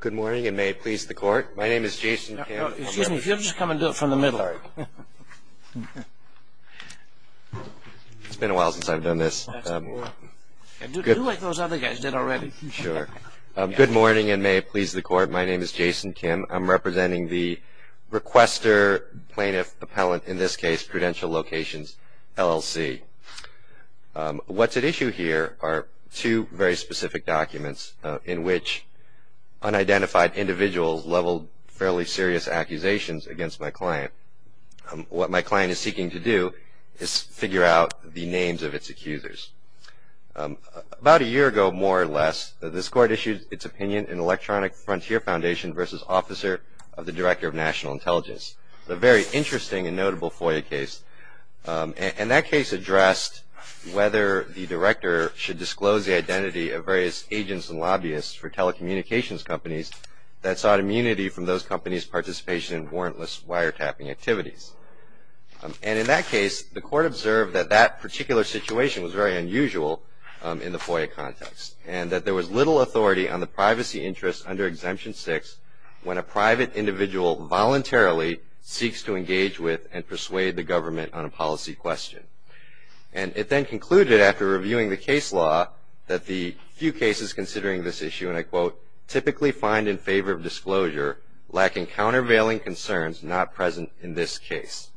Good morning, and may it please the Court, my name is Jason Kim. Excuse me, if you'll just come and do it from the middle. It's been a while since I've done this. Do like those other guys did already. Sure. Good morning, and may it please the Court, my name is Jason Kim. I'm representing the Requester Plaintiff Appellant, in this case Prudential Locations LLC. What's at issue here are two very specific documents in which unidentified individuals leveled fairly serious accusations against my client. What my client is seeking to do is figure out the names of its accusers. About a year ago, more or less, this Court issued its opinion in Electronic Frontier Foundation v. Officer of the Director of National Intelligence. It's a very interesting and notable FOIA case. And that case addressed whether the director should disclose the identity of various agents and lobbyists for telecommunications companies that sought immunity from those companies' participation in warrantless wiretapping activities. And in that case, the Court observed that that particular situation was very unusual in the FOIA context and that there was little authority on the privacy interests under Exemption 6 when a private individual voluntarily seeks to engage with and persuade the government on a policy question. And it then concluded after reviewing the case law that the few cases considering this issue, and I quote, typically find in favor of disclosure, lacking countervailing concerns not present in this case.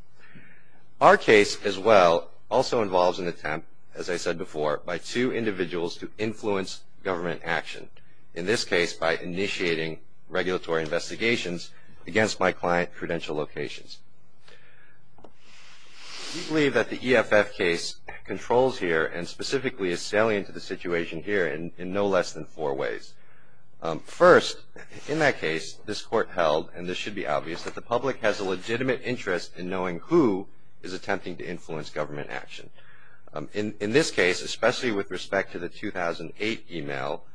Our case, as well, also involves an attempt, as I said before, by two individuals to influence government action. In this case, by initiating regulatory investigations against my client credential locations. We believe that the EFF case controls here and specifically is salient to the situation here in no less than four ways. First, in that case, this Court held, and this should be obvious, that the public has a legitimate interest in knowing who is attempting to influence government action. In this case, especially with respect to the 2008 email,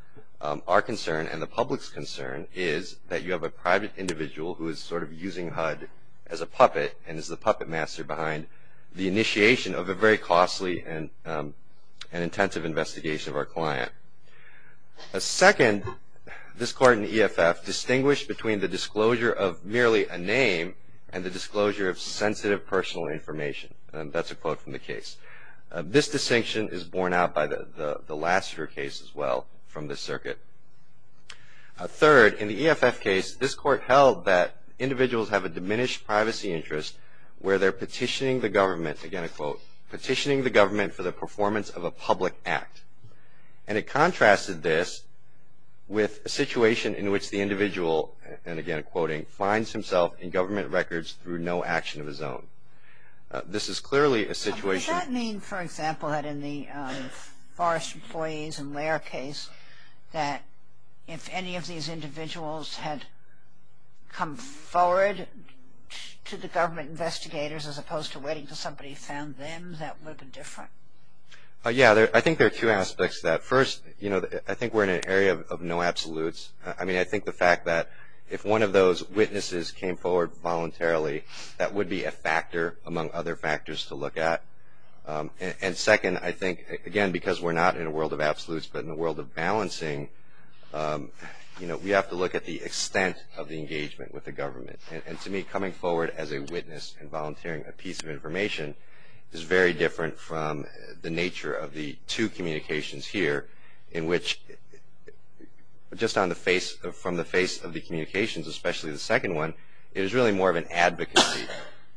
our concern and the public's concern is that you have a private individual who is sort of using HUD as a puppet and is the puppet master behind the initiation of a very costly and intensive investigation of our client. Second, this Court in EFF distinguished between the disclosure of merely a name and the disclosure of sensitive personal information. That's a quote from the case. This distinction is borne out by the Lassiter case, as well, from this circuit. Third, in the EFF case, this Court held that individuals have a diminished privacy interest where they're petitioning the government, again, I quote, petitioning the government for the performance of a public act. And it contrasted this with a situation in which the individual, and again, quoting, finds himself in government records through no action of his own. This is clearly a situation. Does that mean, for example, that in the Forest Employees and Lair case, that if any of these individuals had come forward to the government investigators as opposed to waiting until somebody found them, that would have been different? Yeah, I think there are two aspects to that. First, you know, I think we're in an area of no absolutes. I mean, I think the fact that if one of those witnesses came forward voluntarily, that would be a factor among other factors to look at. And second, I think, again, because we're not in a world of absolutes, but in a world of balancing, you know, we have to look at the extent of the engagement with the government. And to me, coming forward as a witness and volunteering a piece of information is very different from the nature of the two communications here, in which just from the face of the communications, especially the second one, it is really more of an advocacy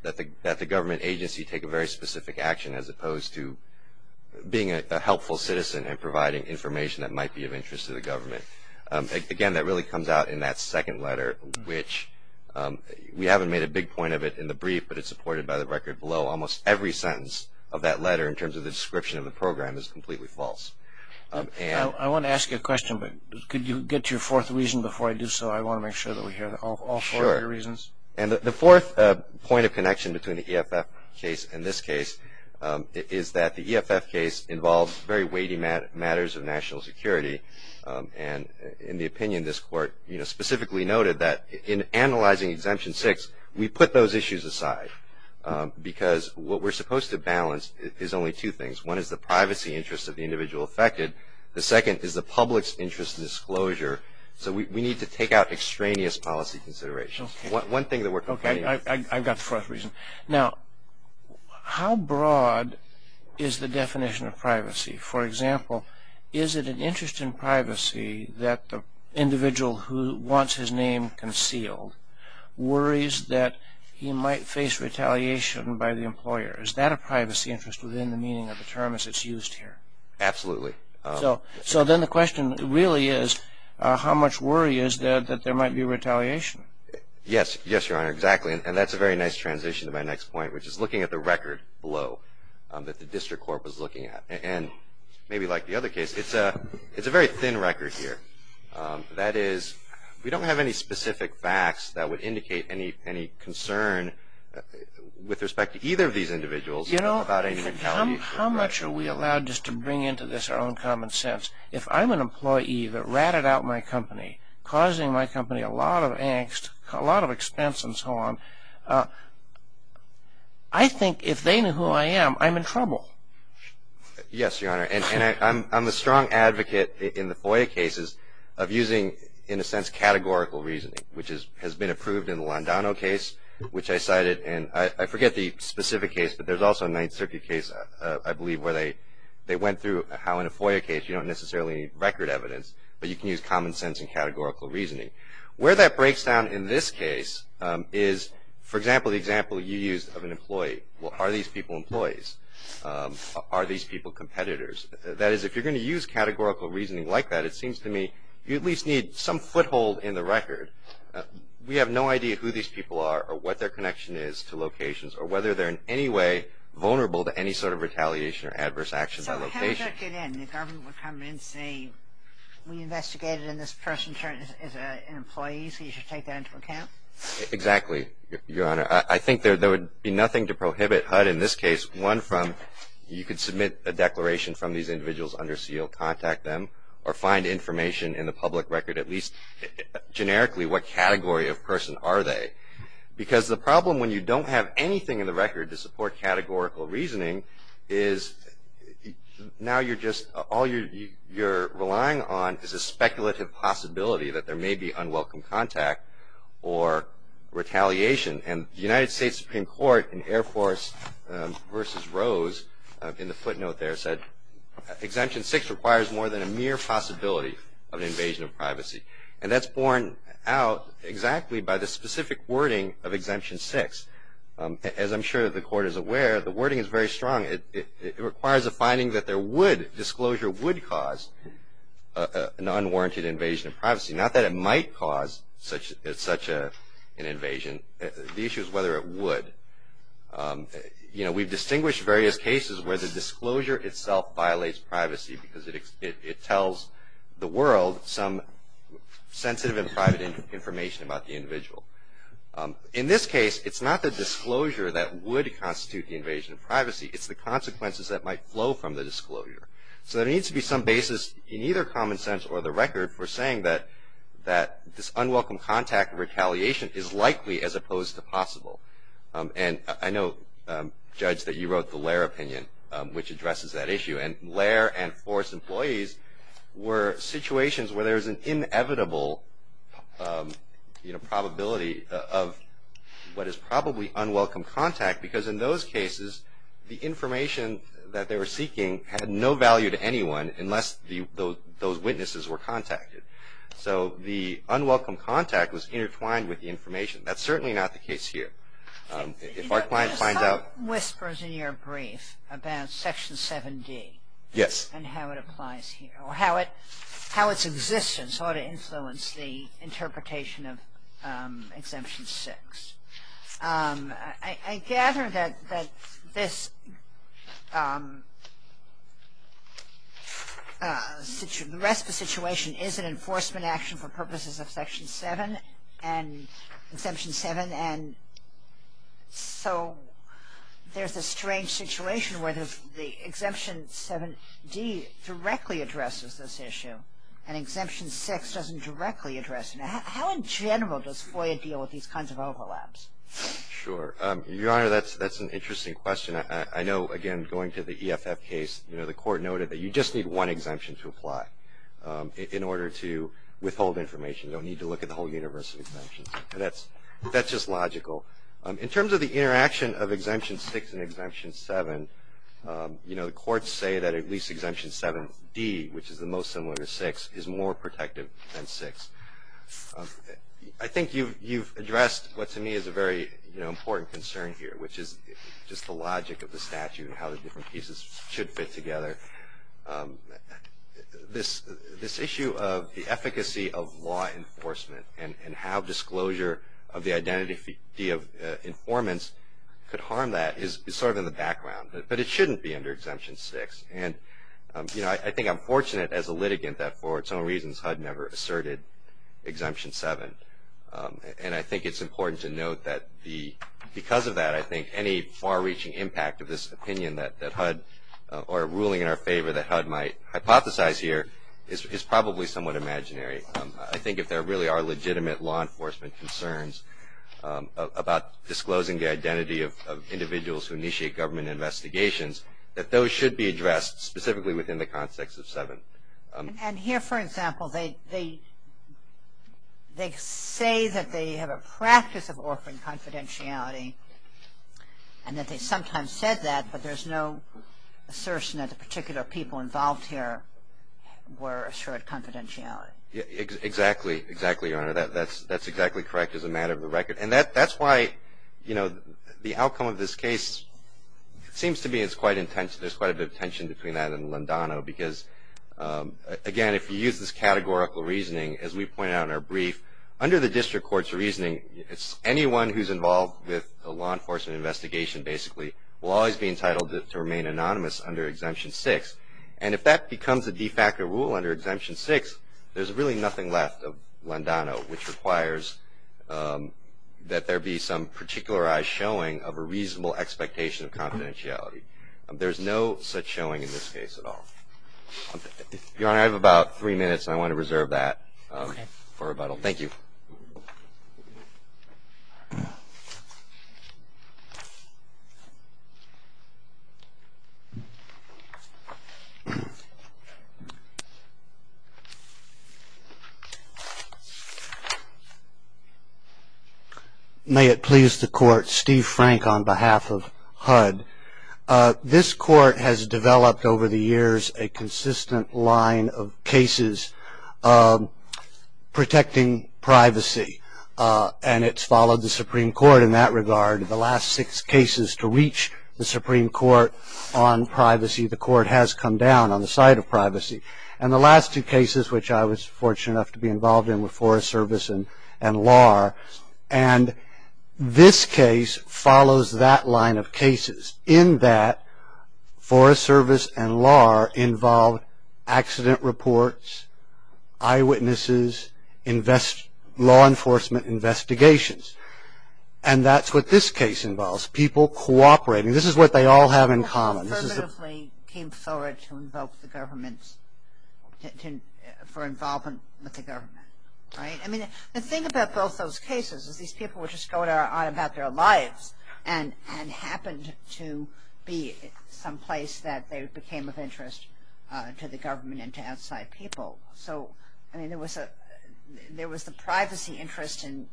that the government agency take a very specific action as opposed to being a helpful citizen and providing information that might be of interest to the government. Again, that really comes out in that second letter, which we haven't made a big point of it in the brief, but it's supported by the record below. Almost every sentence of that letter in terms of the description of the program is completely false. I want to ask you a question, but could you get to your fourth reason before I do so? I want to make sure that we hear all four of your reasons. Sure. And the fourth point of connection between the EFF case and this case is that the EFF case involves very weighty matters of national security. And in the opinion of this court, you know, specifically noted that in analyzing Exemption 6, we put those issues aside because what we're supposed to balance is only two things. One is the privacy interest of the individual affected. The second is the public's interest in disclosure. So we need to take out extraneous policy considerations. One thing that we're complaining about. Okay, I've got the fourth reason. Now, how broad is the definition of privacy? For example, is it an interest in privacy that the individual who wants his name concealed worries that he might face retaliation by the employer? Is that a privacy interest within the meaning of the term as it's used here? Absolutely. So then the question really is how much worry is there that there might be retaliation? Yes, Your Honor, exactly. And that's a very nice transition to my next point, which is looking at the record below that the district court was looking at. And maybe like the other case, it's a very thin record here. That is, we don't have any specific facts that would indicate any concern with respect to either of these individuals. You know, how much are we allowed just to bring into this our own common sense? If I'm an employee that ratted out my company, causing my company a lot of angst, a lot of expense and so on, I think if they knew who I am, I'm in trouble. Yes, Your Honor. And I'm a strong advocate in the FOIA cases of using, in a sense, categorical reasoning, which has been approved in the Londano case, which I cited. And I forget the specific case, but there's also a Ninth Circuit case, I believe, where they went through how in a FOIA case you don't necessarily need record evidence, but you can use common sense and categorical reasoning. Where that breaks down in this case is, for example, the example you used of an employee. Are these people employees? Are these people competitors? That is, if you're going to use categorical reasoning like that, it seems to me you at least need some foothold in the record. We have no idea who these people are or what their connection is to locations or whether they're in any way vulnerable to any sort of retaliation or adverse action by location. So how would that get in? The government would come in and say, we investigated in this person as an employee, so you should take that into account? Exactly, Your Honor. I think there would be nothing to prohibit HUD in this case. One, you could submit a declaration from these individuals under SEAL, contact them, or find information in the public record, at least generically, what category of person are they? Because the problem when you don't have anything in the record to support categorical reasoning is now you're just, all you're relying on is a speculative possibility that there may be unwelcome contact or retaliation. And the United States Supreme Court in Air Force v. Rose in the footnote there said, Exemption 6 requires more than a mere possibility of an invasion of privacy. And that's borne out exactly by the specific wording of Exemption 6. As I'm sure the Court is aware, the wording is very strong. It requires a finding that there would, disclosure would cause an unwarranted invasion of privacy. Not that it might cause such an invasion. The issue is whether it would. You know, we've distinguished various cases where the disclosure itself violates privacy because it tells the world some sensitive and private information about the individual. In this case, it's not the disclosure that would constitute the invasion of privacy. It's the consequences that might flow from the disclosure. So there needs to be some basis in either common sense or the record for saying that this unwelcome contact and retaliation is likely as opposed to possible. And I know, Judge, that you wrote the Lair Opinion, which addresses that issue. And Lair and Force employees were situations where there was an inevitable, you know, probability of what is probably unwelcome contact because in those cases, the information that they were seeking had no value to anyone unless those witnesses were contacted. So the unwelcome contact was intertwined with the information. That's certainly not the case here. If our client finds out – There's some whispers in your brief about Section 7D. Yes. And how it applies here or how its existence ought to influence the interpretation of Exemption 6. I gather that this – the rest of the situation is an enforcement action for purposes of Section 7 and Exemption 7. And so there's a strange situation where the Exemption 7D directly addresses this issue and Exemption 6 doesn't directly address it. How in general does FOIA deal with these kinds of overlaps? Sure. Your Honor, that's an interesting question. I know, again, going to the EFF case, you know, the Court noted that you just need one exemption to apply in order to withhold information. You don't need to look at the whole universe of exemptions. That's just logical. In terms of the interaction of Exemption 6 and Exemption 7, you know, the courts say that at least Exemption 7D, which is the most similar to 6, is more protective than 6. I think you've addressed what to me is a very, you know, important concern here, which is just the logic of the statute and how the different pieces should fit together. This issue of the efficacy of law enforcement and how disclosure of the identity of informants could harm that is sort of in the background. But it shouldn't be under Exemption 6. And, you know, I think I'm fortunate as a litigant that for its own reasons HUD never asserted Exemption 7. And I think it's important to note that because of that I think any far-reaching impact of this opinion that HUD or a ruling in our favor that HUD might hypothesize here is probably somewhat imaginary. I think if there really are legitimate law enforcement concerns about disclosing the identity of individuals who initiate government investigations, that those should be addressed specifically within the context of 7. And here, for example, they say that they have a practice of offering confidentiality and that they sometimes said that, but there's no assertion that the particular people involved here were assured confidentiality. Exactly. Exactly, Your Honor. That's exactly correct as a matter of the record. And that's why, you know, the outcome of this case seems to be it's quite intense. There's quite a bit of tension between that and Landano because, again, if you use this categorical reasoning as we pointed out in our brief, under the district court's reasoning, anyone who's involved with a law enforcement investigation basically will always be entitled to remain anonymous under Exemption 6. And if that becomes a de facto rule under Exemption 6, there's really nothing left of Landano, which requires that there be some particularized showing of a reasonable expectation of confidentiality. There's no such showing in this case at all. Your Honor, I have about three minutes, and I want to reserve that for rebuttal. Thank you. May it please the Court, Steve Frank on behalf of HUD. This Court has developed over the years a consistent line of cases protecting privacy, and it's followed the Supreme Court in that regard. The last six cases to reach the Supreme Court on privacy, the Court has come down on the side of privacy. And the last two cases, which I was fortunate enough to be involved in with Forest Service and law, and this case follows that line of cases. In that, Forest Service and law involve accident reports, eyewitnesses, law enforcement investigations. And that's what this case involves, people cooperating. This is what they all have in common. Came forward to invoke the government for involvement with the government, right? I mean, the thing about both those cases is these people were just going on about their lives and happened to be someplace that they became of interest to the government and to outside people. So, I mean, there was the privacy interest in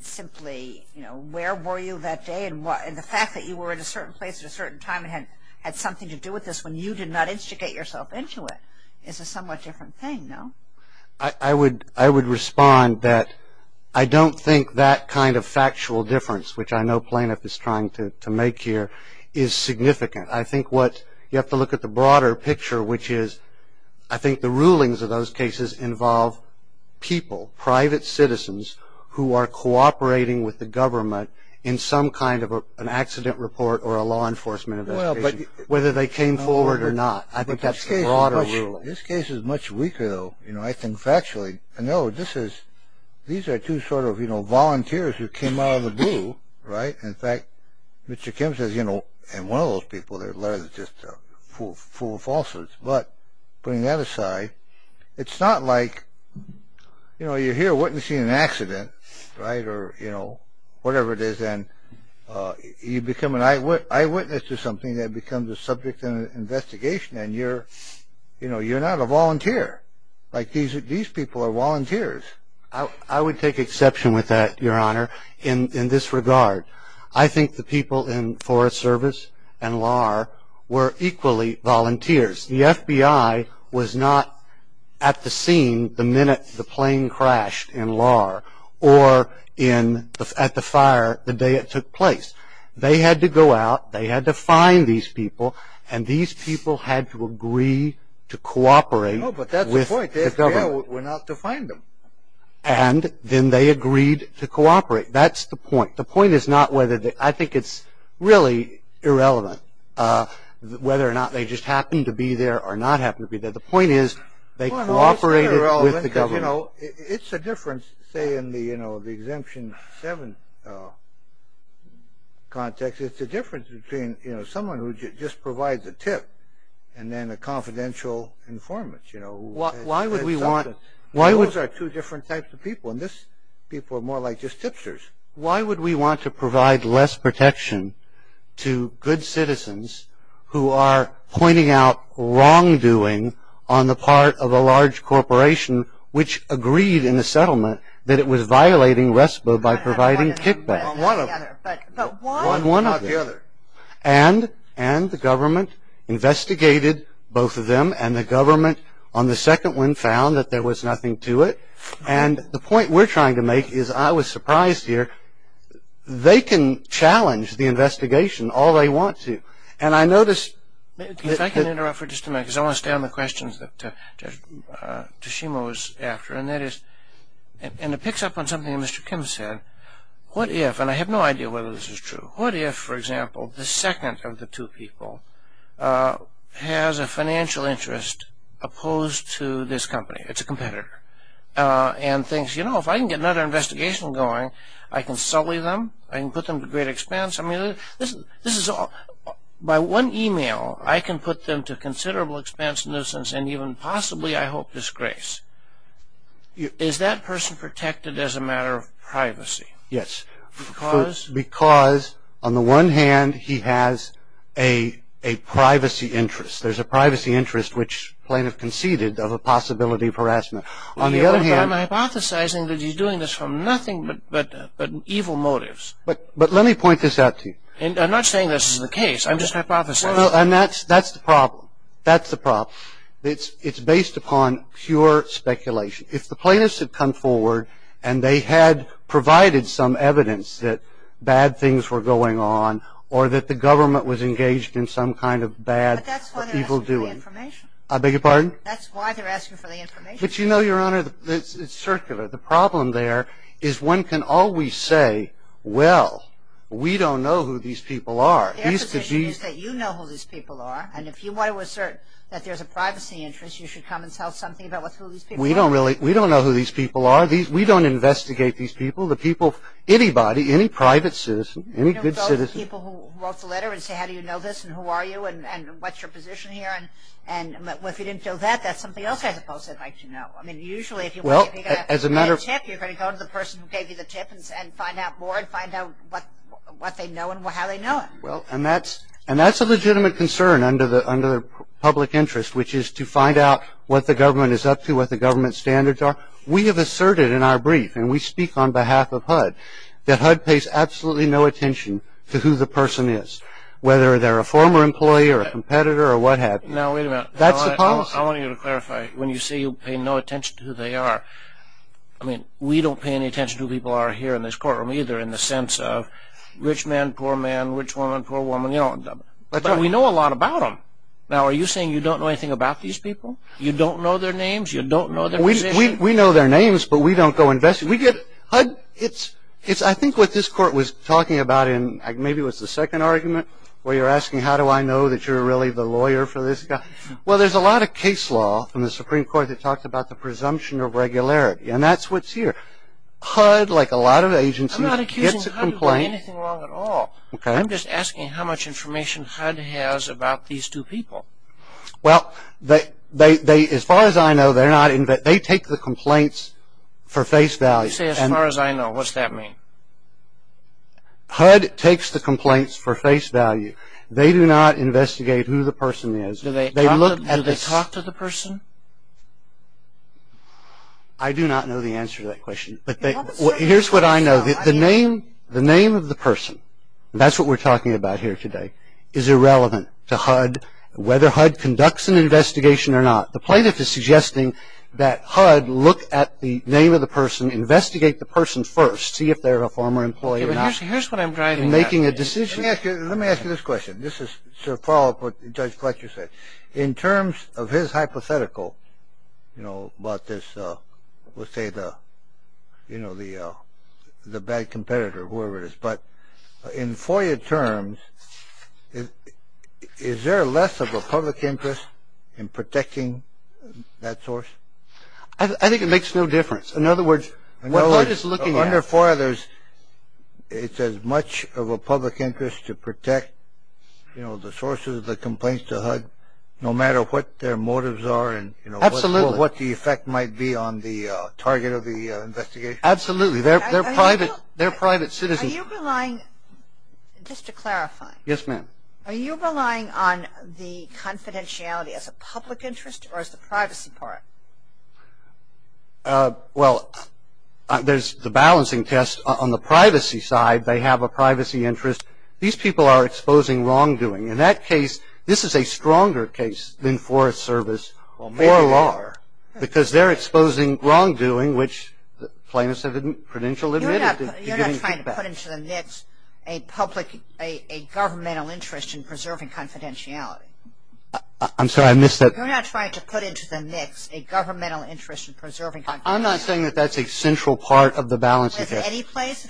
simply, you know, where were you that day? And the fact that you were in a certain place at a certain time and had something to do with this when you did not instigate yourself into it is a somewhat different thing, no? I would respond that I don't think that kind of factual difference, which I know Plaintiff is trying to make here, is significant. I think what you have to look at the broader picture, which is I think the rulings of those cases involve people, private citizens who are cooperating with the government in some kind of an accident report or a law enforcement investigation, whether they came forward or not. I think that's the broader ruling. This case is much weaker, though. You know, I think factually, I know this is, these are two sort of, you know, volunteers who came out of the blue, right? In fact, Mr. Kim says, you know, and one of those people, they're just full of falsehoods. But putting that aside, it's not like, you know, you're here witnessing an accident, right? Or, you know, whatever it is, and you become an eyewitness to something that becomes a subject of an investigation and you're, you know, you're not a volunteer. Like these people are volunteers. I would take exception with that, Your Honor, in this regard. I think the people in Forest Service and LAR were equally volunteers. The FBI was not at the scene the minute the plane crashed in LAR or at the fire the day it took place. They had to go out, they had to find these people, and these people had to agree to cooperate with the government. Oh, but that's the point. The FBI went out to find them. And then they agreed to cooperate. That's the point. I think it's really irrelevant whether or not they just happened to be there or not happened to be there. The point is they cooperated with the government. It's irrelevant because, you know, it's a difference, say, in the, you know, the Exemption 7 context. It's a difference between, you know, someone who just provides a tip and then a confidential informant, you know. Why would we want? Those are two different types of people, and these people are more like just tipsters. Why would we want to provide less protection to good citizens who are pointing out wrongdoing on the part of a large corporation which agreed in the settlement that it was violating RESPA by providing kickback? On one of them. On one of them. Not the other. And the government investigated both of them, and the government on the second one found that there was nothing to it. And the point we're trying to make is I was surprised here. They can challenge the investigation all they want to. And I noticed that- If I can interrupt for just a minute because I want to stay on the questions that Tashima was after, and that is, and it picks up on something that Mr. Kim said, what if, and I have no idea whether this is true, what if, for example, the second of the two people has a financial interest opposed to this company? It's a competitor. And thinks, you know, if I can get another investigation going, I can sully them, I can put them to great expense. I mean, this is all- By one email, I can put them to considerable expense, nuisance, and even possibly, I hope, disgrace. Is that person protected as a matter of privacy? Yes. Because? Because, on the one hand, he has a privacy interest. There's a privacy interest, which plaintiff conceded, of a possibility of harassment. On the other hand- I'm hypothesizing that he's doing this for nothing but evil motives. But let me point this out to you. I'm not saying this is the case. I'm just hypothesizing. And that's the problem. That's the problem. It's based upon pure speculation. If the plaintiffs had come forward and they had provided some evidence that bad things were going on or that the government was engaged in some kind of bad- But that's why they're asking for the information. I beg your pardon? That's why they're asking for the information. But you know, Your Honor, it's circular. The problem there is one can always say, well, we don't know who these people are. Their position is that you know who these people are, and if you want to assert that there's a privacy interest, you should come and tell something about who these people are. We don't know who these people are. We don't investigate these people. Anybody, any private citizen, any good citizen- And what's your position here? And if you didn't feel that, that's something else I suppose I'd like to know. I mean, usually if you've got a tip, you're going to go to the person who gave you the tip and find out more and find out what they know and how they know it. And that's a legitimate concern under the public interest, which is to find out what the government is up to, what the government standards are. We have asserted in our brief, and we speak on behalf of HUD, that HUD pays absolutely no attention to who the person is, whether they're a former employee or a competitor or what have you. Now, wait a minute. That's the policy. I want you to clarify. When you say you pay no attention to who they are, I mean, we don't pay any attention to who people are here in this courtroom, either in the sense of rich man, poor man, rich woman, poor woman, you know. But we know a lot about them. Now, are you saying you don't know anything about these people? You don't know their names? You don't know their position? We know their names, but we don't go investigate. I think what this court was talking about in maybe it was the second argument where you're asking how do I know that you're really the lawyer for this guy. Well, there's a lot of case law in the Supreme Court that talks about the presumption of regularity, and that's what's here. HUD, like a lot of agencies, gets a complaint. I'm not accusing HUD of doing anything wrong at all. Okay. I'm just asking how much information HUD has about these two people. Well, as far as I know, they take the complaints for face value. You say as far as I know. What's that mean? HUD takes the complaints for face value. They do not investigate who the person is. Do they talk to the person? I do not know the answer to that question. Here's what I know. The name of the person, that's what we're talking about here today, is irrelevant to HUD, whether HUD conducts an investigation or not. The plaintiff is suggesting that HUD look at the name of the person, investigate the person first, see if they're a former employee or not. Here's what I'm driving at. In making a decision. Let me ask you this question. This is to follow up what Judge Fletcher said. In terms of his hypothetical about this, let's say the bad competitor or whoever it is, but in FOIA terms, is there less of a public interest in protecting that source? I think it makes no difference. In other words, under FOIA, it's as much of a public interest to protect, you know, the sources, the complaints to HUD, no matter what their motives are and, you know, what the effect might be on the target of the investigation. Absolutely. They're private citizens. Are you relying, just to clarify. Yes, ma'am. Are you relying on the confidentiality as a public interest or as the privacy part? Well, there's the balancing test on the privacy side. They have a privacy interest. These people are exposing wrongdoing. In that case, this is a stronger case than Forest Service or law because they're exposing wrongdoing, which plaintiffs have credentialed. You're not trying to put into the mix a public, a governmental interest in preserving confidentiality. I'm sorry. I missed that. You're not trying to put into the mix a governmental interest in preserving confidentiality. I'm not saying that that's a central part of the balancing test.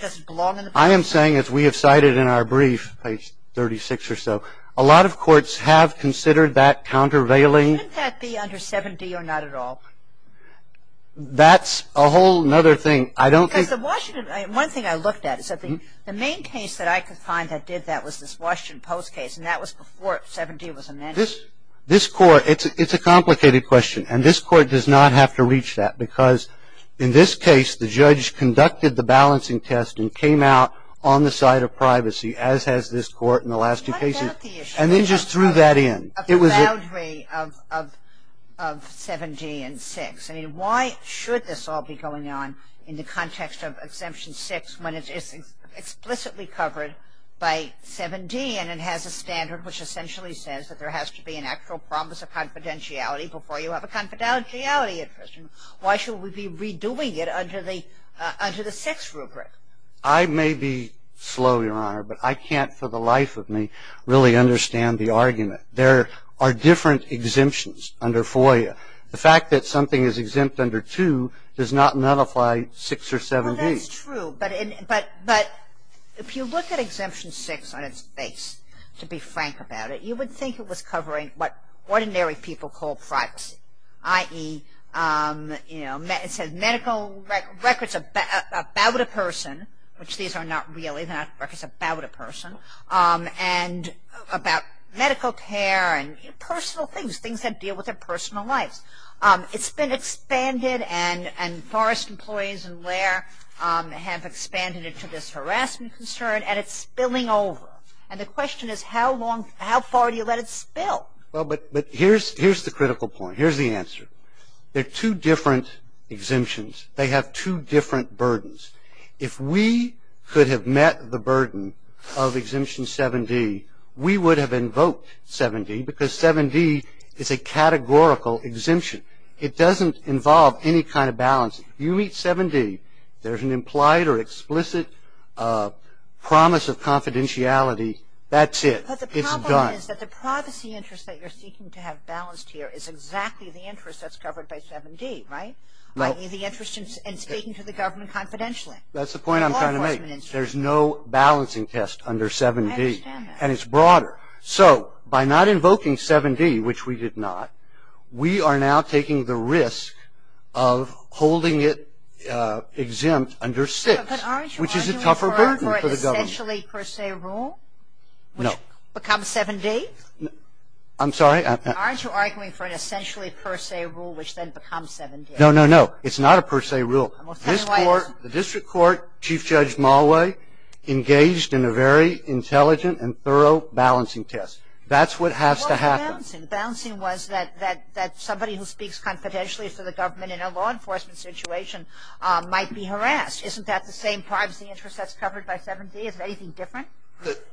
Does it belong in any place? I am saying, as we have cited in our brief, page 36 or so, a lot of courts have considered that countervailing. Shouldn't that be under 7D or not at all? That's a whole other thing. I don't think. One thing I looked at is that the main case that I could find that did that was this Washington Post case, and that was before 7D was amended. This court, it's a complicated question, and this court does not have to reach that because in this case, the judge conducted the balancing test and came out on the side of privacy, as has this court in the last two cases, and then just threw that in. It was a boundary of 7D and 6. I mean, why should this all be going on in the context of Exemption 6 when it is explicitly covered by 7D and it has a standard which essentially says that there has to be an actual promise of confidentiality before you have a confidentiality interest? Why should we be redoing it under the 6 rubric? I may be slow, Your Honor, but I can't for the life of me really understand the argument. There are different exemptions under FOIA. The fact that something is exempt under 2 does not nullify 6 or 7D. Well, that's true, but if you look at Exemption 6 on its base, to be frank about it, you would think it was covering what ordinary people call privacy, i.e., you know, it says medical records about a person, which these are not really, they're not records about a person, and about medical care and personal things, things that deal with their personal lives. It's been expanded and Forrest employees and Lair have expanded it to this harassment concern and it's spilling over, and the question is how far do you let it spill? Well, but here's the critical point. Here's the answer. There are two different exemptions. They have two different burdens. If we could have met the burden of Exemption 7D, we would have invoked 7D because 7D is a categorical exemption. It doesn't involve any kind of balance. You meet 7D, there's an implied or explicit promise of confidentiality. That's it. It's done. But the problem is that the privacy interest that you're seeking to have balanced here is exactly the interest that's covered by 7D, right? The interest in speaking to the government confidentially. That's the point I'm trying to make. There's no balancing test under 7D. I understand that. And it's broader. So by not invoking 7D, which we did not, we are now taking the risk of holding it exempt under 6, which is a tougher burden for the government. But aren't you arguing for an essentially per se rule? No. Which becomes 7D? I'm sorry? Aren't you arguing for an essentially per se rule, which then becomes 7D? No, no, no. It's not a per se rule. This Court, the District Court, Chief Judge Mulway engaged in a very intelligent and thorough balancing test. That's what has to happen. What was the balancing? The balancing was that somebody who speaks confidentially to the government in a law enforcement situation might be harassed. Isn't that the same privacy interest that's covered by 7D? Is there anything different?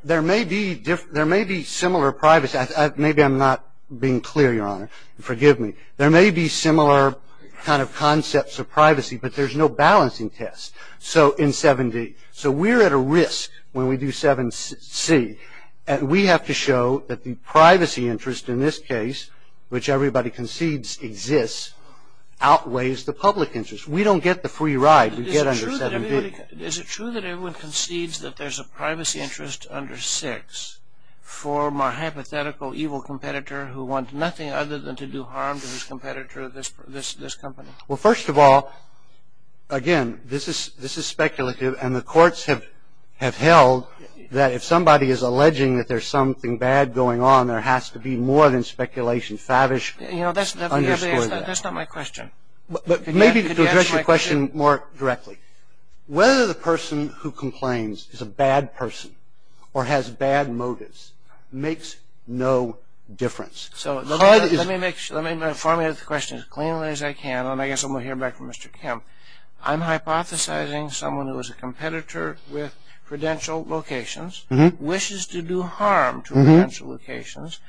There may be similar privacy. Maybe I'm not being clear, Your Honor. Forgive me. There may be similar kind of concepts of privacy, but there's no balancing test in 7D. So we're at a risk when we do 7C, and we have to show that the privacy interest in this case, which everybody concedes exists, outweighs the public interest. We don't get the free ride. We get under 7D. Is it true that everyone concedes that there's a privacy interest under 6 for my hypothetical evil competitor who wants nothing other than to do harm to his competitor, this company? Well, first of all, again, this is speculative, and the courts have held that if somebody is alleging that there's something bad going on, there has to be more than speculation. Favish underscored that. That's not my question. Maybe to address your question more directly. Whether the person who complains is a bad person or has bad motives makes no difference. So let me make sure. Let me formulate the question as cleanly as I can, and I guess I'm going to hear back from Mr. Kemp. I'm hypothesizing someone who is a competitor with credential locations, wishes to do harm to credential locations,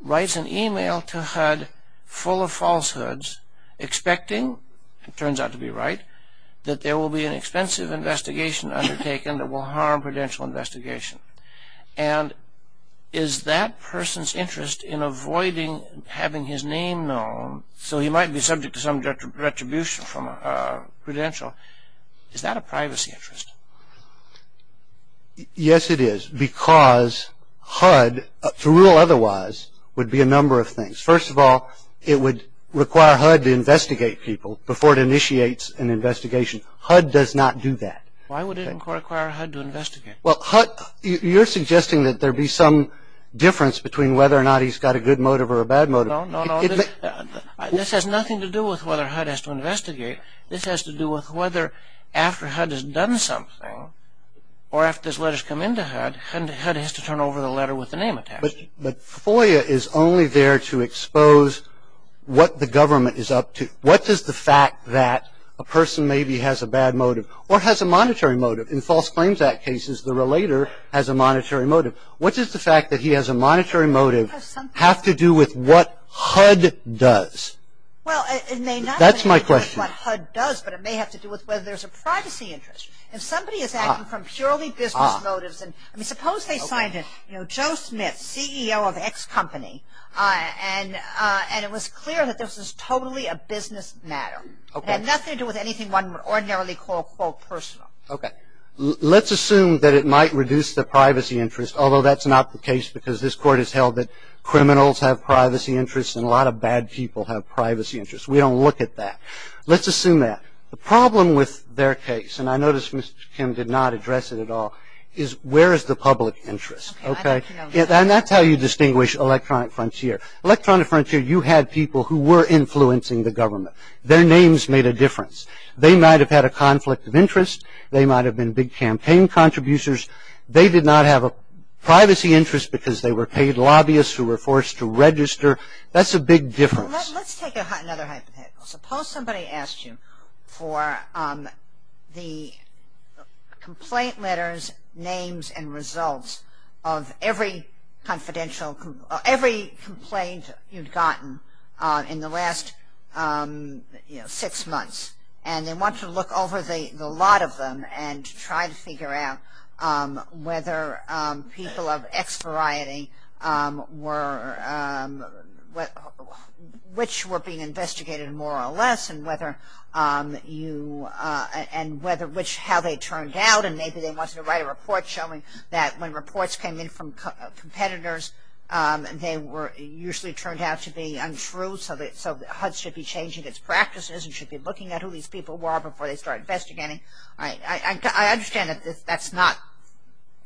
writes an email to HUD full of falsehoods expecting, it turns out to be right, that there will be an expensive investigation undertaken that will harm credential investigation. And is that person's interest in avoiding having his name known, so he might be subject to some retribution from a credential, is that a privacy interest? Yes, it is. Because HUD, to rule otherwise, would be a number of things. First of all, it would require HUD to investigate people before it initiates an investigation. HUD does not do that. Why would it require HUD to investigate? Well, HUD, you're suggesting that there be some difference between whether or not he's got a good motive or a bad motive. No, no, no. This has nothing to do with whether HUD has to investigate. This has to do with whether after HUD has done something or after his letters come into HUD, HUD has to turn over the letter with the name attached. But FOIA is only there to expose what the government is up to. What does the fact that a person maybe has a bad motive or has a monetary motive? In False Claims Act cases, the relator has a monetary motive. What does the fact that he has a monetary motive have to do with what HUD does? Well, it may not. That's my question. It may have to do with what HUD does, but it may have to do with whether there's a privacy interest. If somebody is acting from purely business motives and, I mean, suppose they signed it, you know, Joe Smith, CEO of X company, and it was clear that this was totally a business matter. Okay. It had nothing to do with anything one would ordinarily call, quote, personal. Okay. Let's assume that it might reduce the privacy interest, although that's not the case because this Court has held that criminals have privacy interests and a lot of bad people have privacy interests. We don't look at that. Let's assume that. The problem with their case, and I notice Mr. Kim did not address it at all, is where is the public interest? Okay. And that's how you distinguish electronic frontier. Electronic frontier, you had people who were influencing the government. Their names made a difference. They might have had a conflict of interest. They might have been big campaign contributors. They did not have a privacy interest because they were paid lobbyists who were forced to register. That's a big difference. Let's take another hypothetical. Suppose somebody asked you for the complaint letters, names, and results of every confidential, every complaint you'd gotten in the last, you know, six months, and they want you to look over the lot of them and try to figure out whether people of X variety were, which were being investigated more or less, and whether you, and whether which, how they turned out. And maybe they wanted to write a report showing that when reports came in from competitors, they were usually turned out to be untrue, so HUD should be changing its practices and should be looking at who these people were before they start investigating. I understand that that's not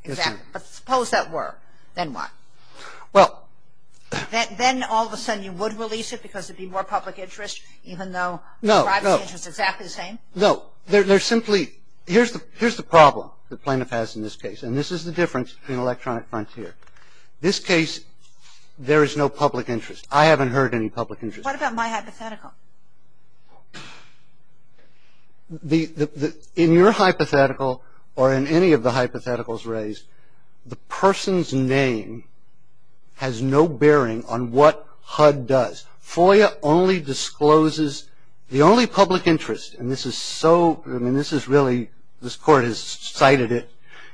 exact, but suppose that were. Then what? Well. Then all of a sudden you would release it because it would be more public interest, even though the privacy interest is exactly the same? No. They're simply, here's the problem the plaintiff has in this case, and this is the difference between electronic frontier. This case, there is no public interest. I haven't heard any public interest. What about my hypothetical? In your hypothetical, or in any of the hypotheticals raised, the person's name has no bearing on what HUD does. FOIA only discloses the only public interest, and this is so, I mean, this is really, this court has cited it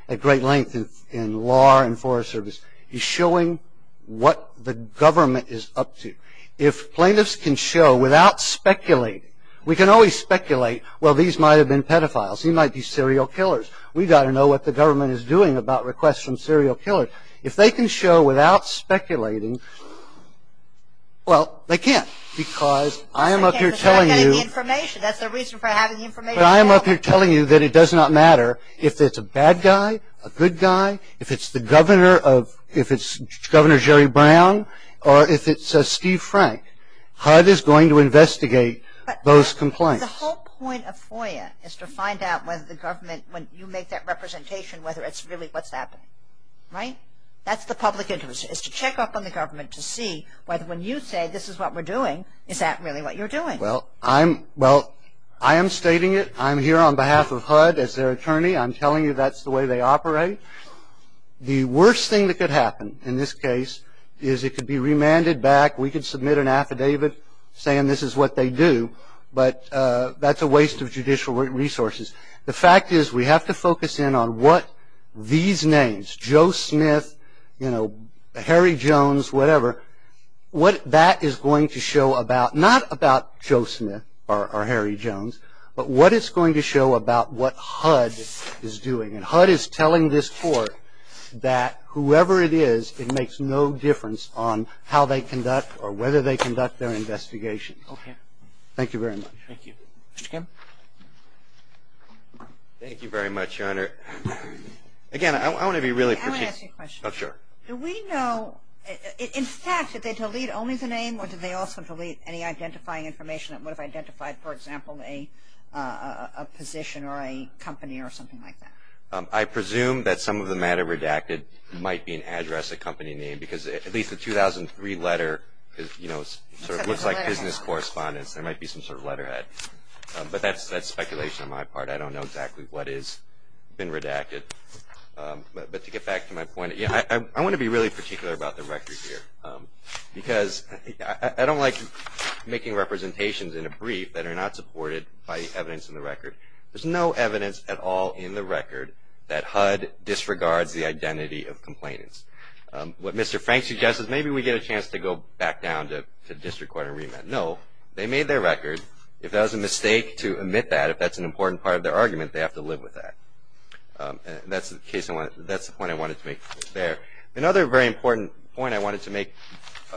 at great length in law and forest service. He's showing what the government is up to. If plaintiffs can show without speculating, we can always speculate, well, these might have been pedophiles. He might be serial killers. We've got to know what the government is doing about requests from serial killers. If they can show without speculating, well, they can't because I am up here telling you. They're not getting the information. That's the reason for having the information. But I am up here telling you that it does not matter if it's a bad guy, a good guy, if it's the governor of, if it's Governor Jerry Brown, or if it's Steve Frank. HUD is going to investigate those complaints. But the whole point of FOIA is to find out whether the government, when you make that representation, whether it's really what's happening. Right? That's the public interest, is to check up on the government to see whether when you say this is what we're doing, is that really what you're doing? Well, I'm, well, I am stating it. I'm here on behalf of HUD as their attorney. I'm telling you that's the way they operate. The worst thing that could happen in this case is it could be remanded back. We could submit an affidavit saying this is what they do, but that's a waste of judicial resources. The fact is we have to focus in on what these names, Joe Smith, you know, Harry Jones, whatever, what that is going to show about, not about Joe Smith or Harry Jones, but what it's going to show about what HUD is doing. And HUD is telling this court that whoever it is, it makes no difference on how they conduct or whether they conduct their investigation. Okay. Thank you very much. Thank you. Mr. Kim? Thank you very much, Your Honor. Again, I want to be really precise. I want to ask you a question. Oh, sure. Do we know, in fact, did they delete only the name, or did they also delete any identifying information that would have identified, for example, a position or a company or something like that? I presume that some of the matter redacted might be an address, a company name, because at least the 2003 letter, you know, sort of looks like business correspondence. There might be some sort of letterhead. But that's speculation on my part. I don't know exactly what has been redacted. But to get back to my point, I want to be really particular about the record here, because I don't like making representations in a brief that are not supported by the evidence in the record. There's no evidence at all in the record that HUD disregards the identity of complainants. What Mr. Frank suggests is maybe we get a chance to go back down to district court and read that. No, they made their record. If that was a mistake to omit that, if that's an important part of their argument, they have to live with that. That's the point I wanted to make there. Another very important point I wanted to make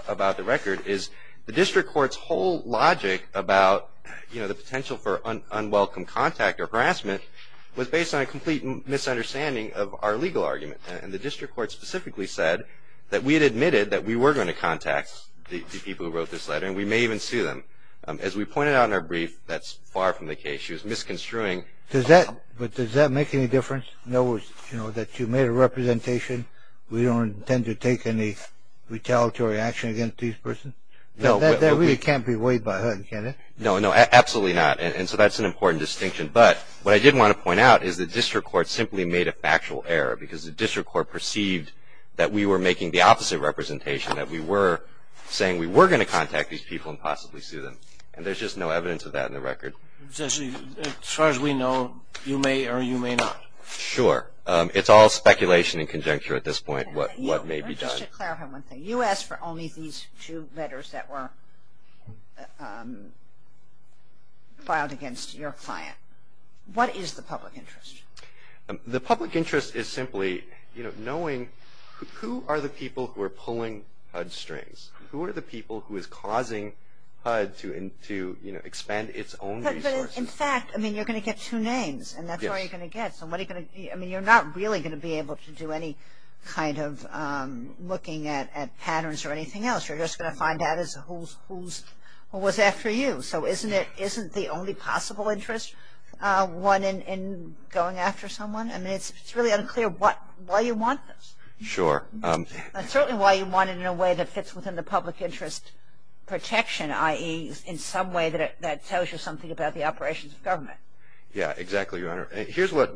about the record is the district court's whole logic about, you know, the potential for unwelcome contact or harassment was based on a complete misunderstanding of our legal argument. And the district court specifically said that we had admitted that we were going to contact the people who wrote this letter, and we may even sue them. As we pointed out in our brief, that's far from the case. She was misconstruing. But does that make any difference? In other words, you know, that you made a representation, we don't intend to take any retaliatory action against these persons? That really can't be weighed by HUD, can it? No, no, absolutely not. And so that's an important distinction. But what I did want to point out is the district court simply made a factual error because the district court perceived that we were making the opposite representation, that we were saying we were going to contact these people and possibly sue them. And there's just no evidence of that in the record. As far as we know, you may or you may not. Sure. It's all speculation and conjecture at this point, what may be done. Just to clarify one thing. You asked for only these two letters that were filed against your client. What is the public interest? The public interest is simply, you know, knowing who are the people who are pulling HUD strings. Who are the people who is causing HUD to, you know, expand its own resources? In fact, I mean, you're going to get two names. And that's what you're going to get. I mean, you're not really going to be able to do any kind of looking at patterns or anything else. You're just going to find out who was after you. So isn't the only possible interest one in going after someone? I mean, it's really unclear why you want this. Sure. That's certainly why you want it in a way that fits within the public interest protection, i.e., in some way that tells you something about the operations of government. Yeah, exactly, Your Honor. Here's what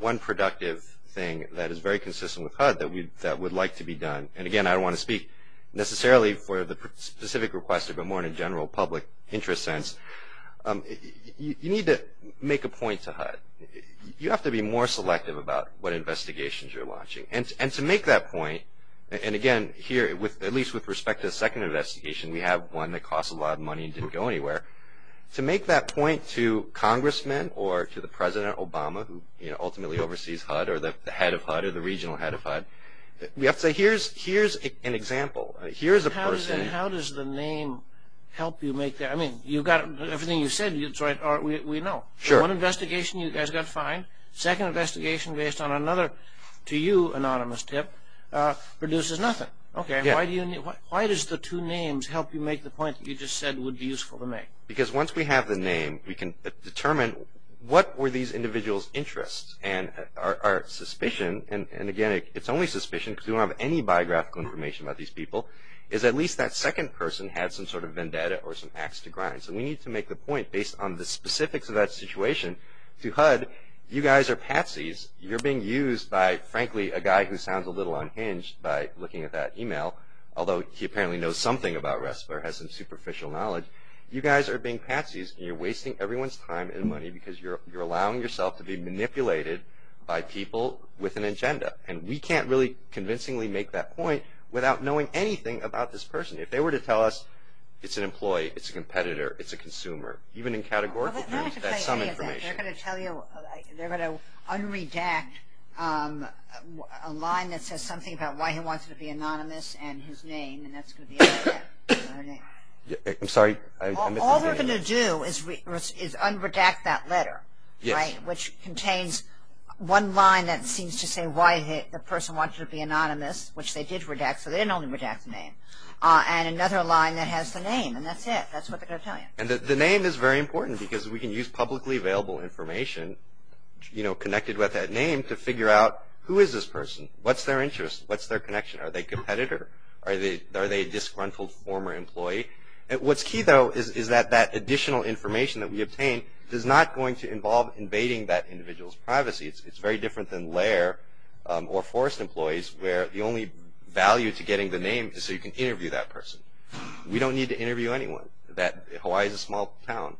one productive thing that is very consistent with HUD that would like to be done. And, again, I don't want to speak necessarily for the specific request, but more in a general public interest sense. You need to make a point to HUD. You have to be more selective about what investigations you're launching. Exactly. And to make that point, and, again, here, at least with respect to the second investigation, we have one that cost a lot of money and didn't go anywhere. To make that point to congressmen or to the President Obama, who ultimately oversees HUD, or the head of HUD or the regional head of HUD, we have to say, here's an example. Here's a person. How does the name help you make that? I mean, you've got everything you've said. We know. Sure. One investigation you guys got fined. Second investigation based on another, to you, anonymous tip, produces nothing. Okay. Why does the two names help you make the point that you just said would be useful to make? Because once we have the name, we can determine what were these individuals' interests. And our suspicion, and, again, it's only suspicion because we don't have any biographical information about these people, is at least that second person had some sort of vendetta or some ax to grind. So we need to make the point based on the specifics of that situation to HUD. You guys are patsies. You're being used by, frankly, a guy who sounds a little unhinged by looking at that e-mail, although he apparently knows something about RESPR, has some superficial knowledge. You guys are being patsies, and you're wasting everyone's time and money because you're allowing yourself to be manipulated by people with an agenda. And we can't really convincingly make that point without knowing anything about this person. If they were to tell us it's an employee, it's a competitor, it's a consumer, even in categorical views, that's some information. They're going to tell you, they're going to un-redact a line that says something about why he wants to be anonymous and his name, and that's going to be un-redacted. I'm sorry. All they're going to do is un-redact that letter, right, which contains one line that seems to say why the person wants to be anonymous, which they did redact, so they didn't only redact the name, and another line that has the name, and that's it. That's what they're going to tell you. And the name is very important because we can use publicly available information, you know, connected with that name to figure out who is this person? What's their interest? What's their connection? Are they a competitor? Are they a disgruntled former employee? What's key, though, is that that additional information that we obtain is not going to involve invading that individual's privacy. It's very different than lair or forced employees where the only value to getting the name is so you can interview that person. We don't need to interview anyone. Hawaii is a small town.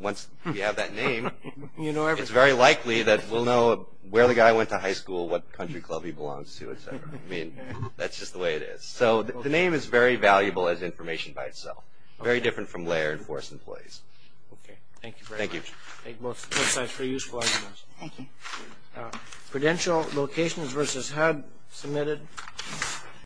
Once we have that name, it's very likely that we'll know where the guy went to high school, what country club he belongs to, et cetera. I mean, that's just the way it is. So the name is very valuable as information by itself. Very different from lair and forced employees. Okay. Thank you very much. Thank you. Thank both sides for your useful information. Thank you. Credential locations versus HUD submitted.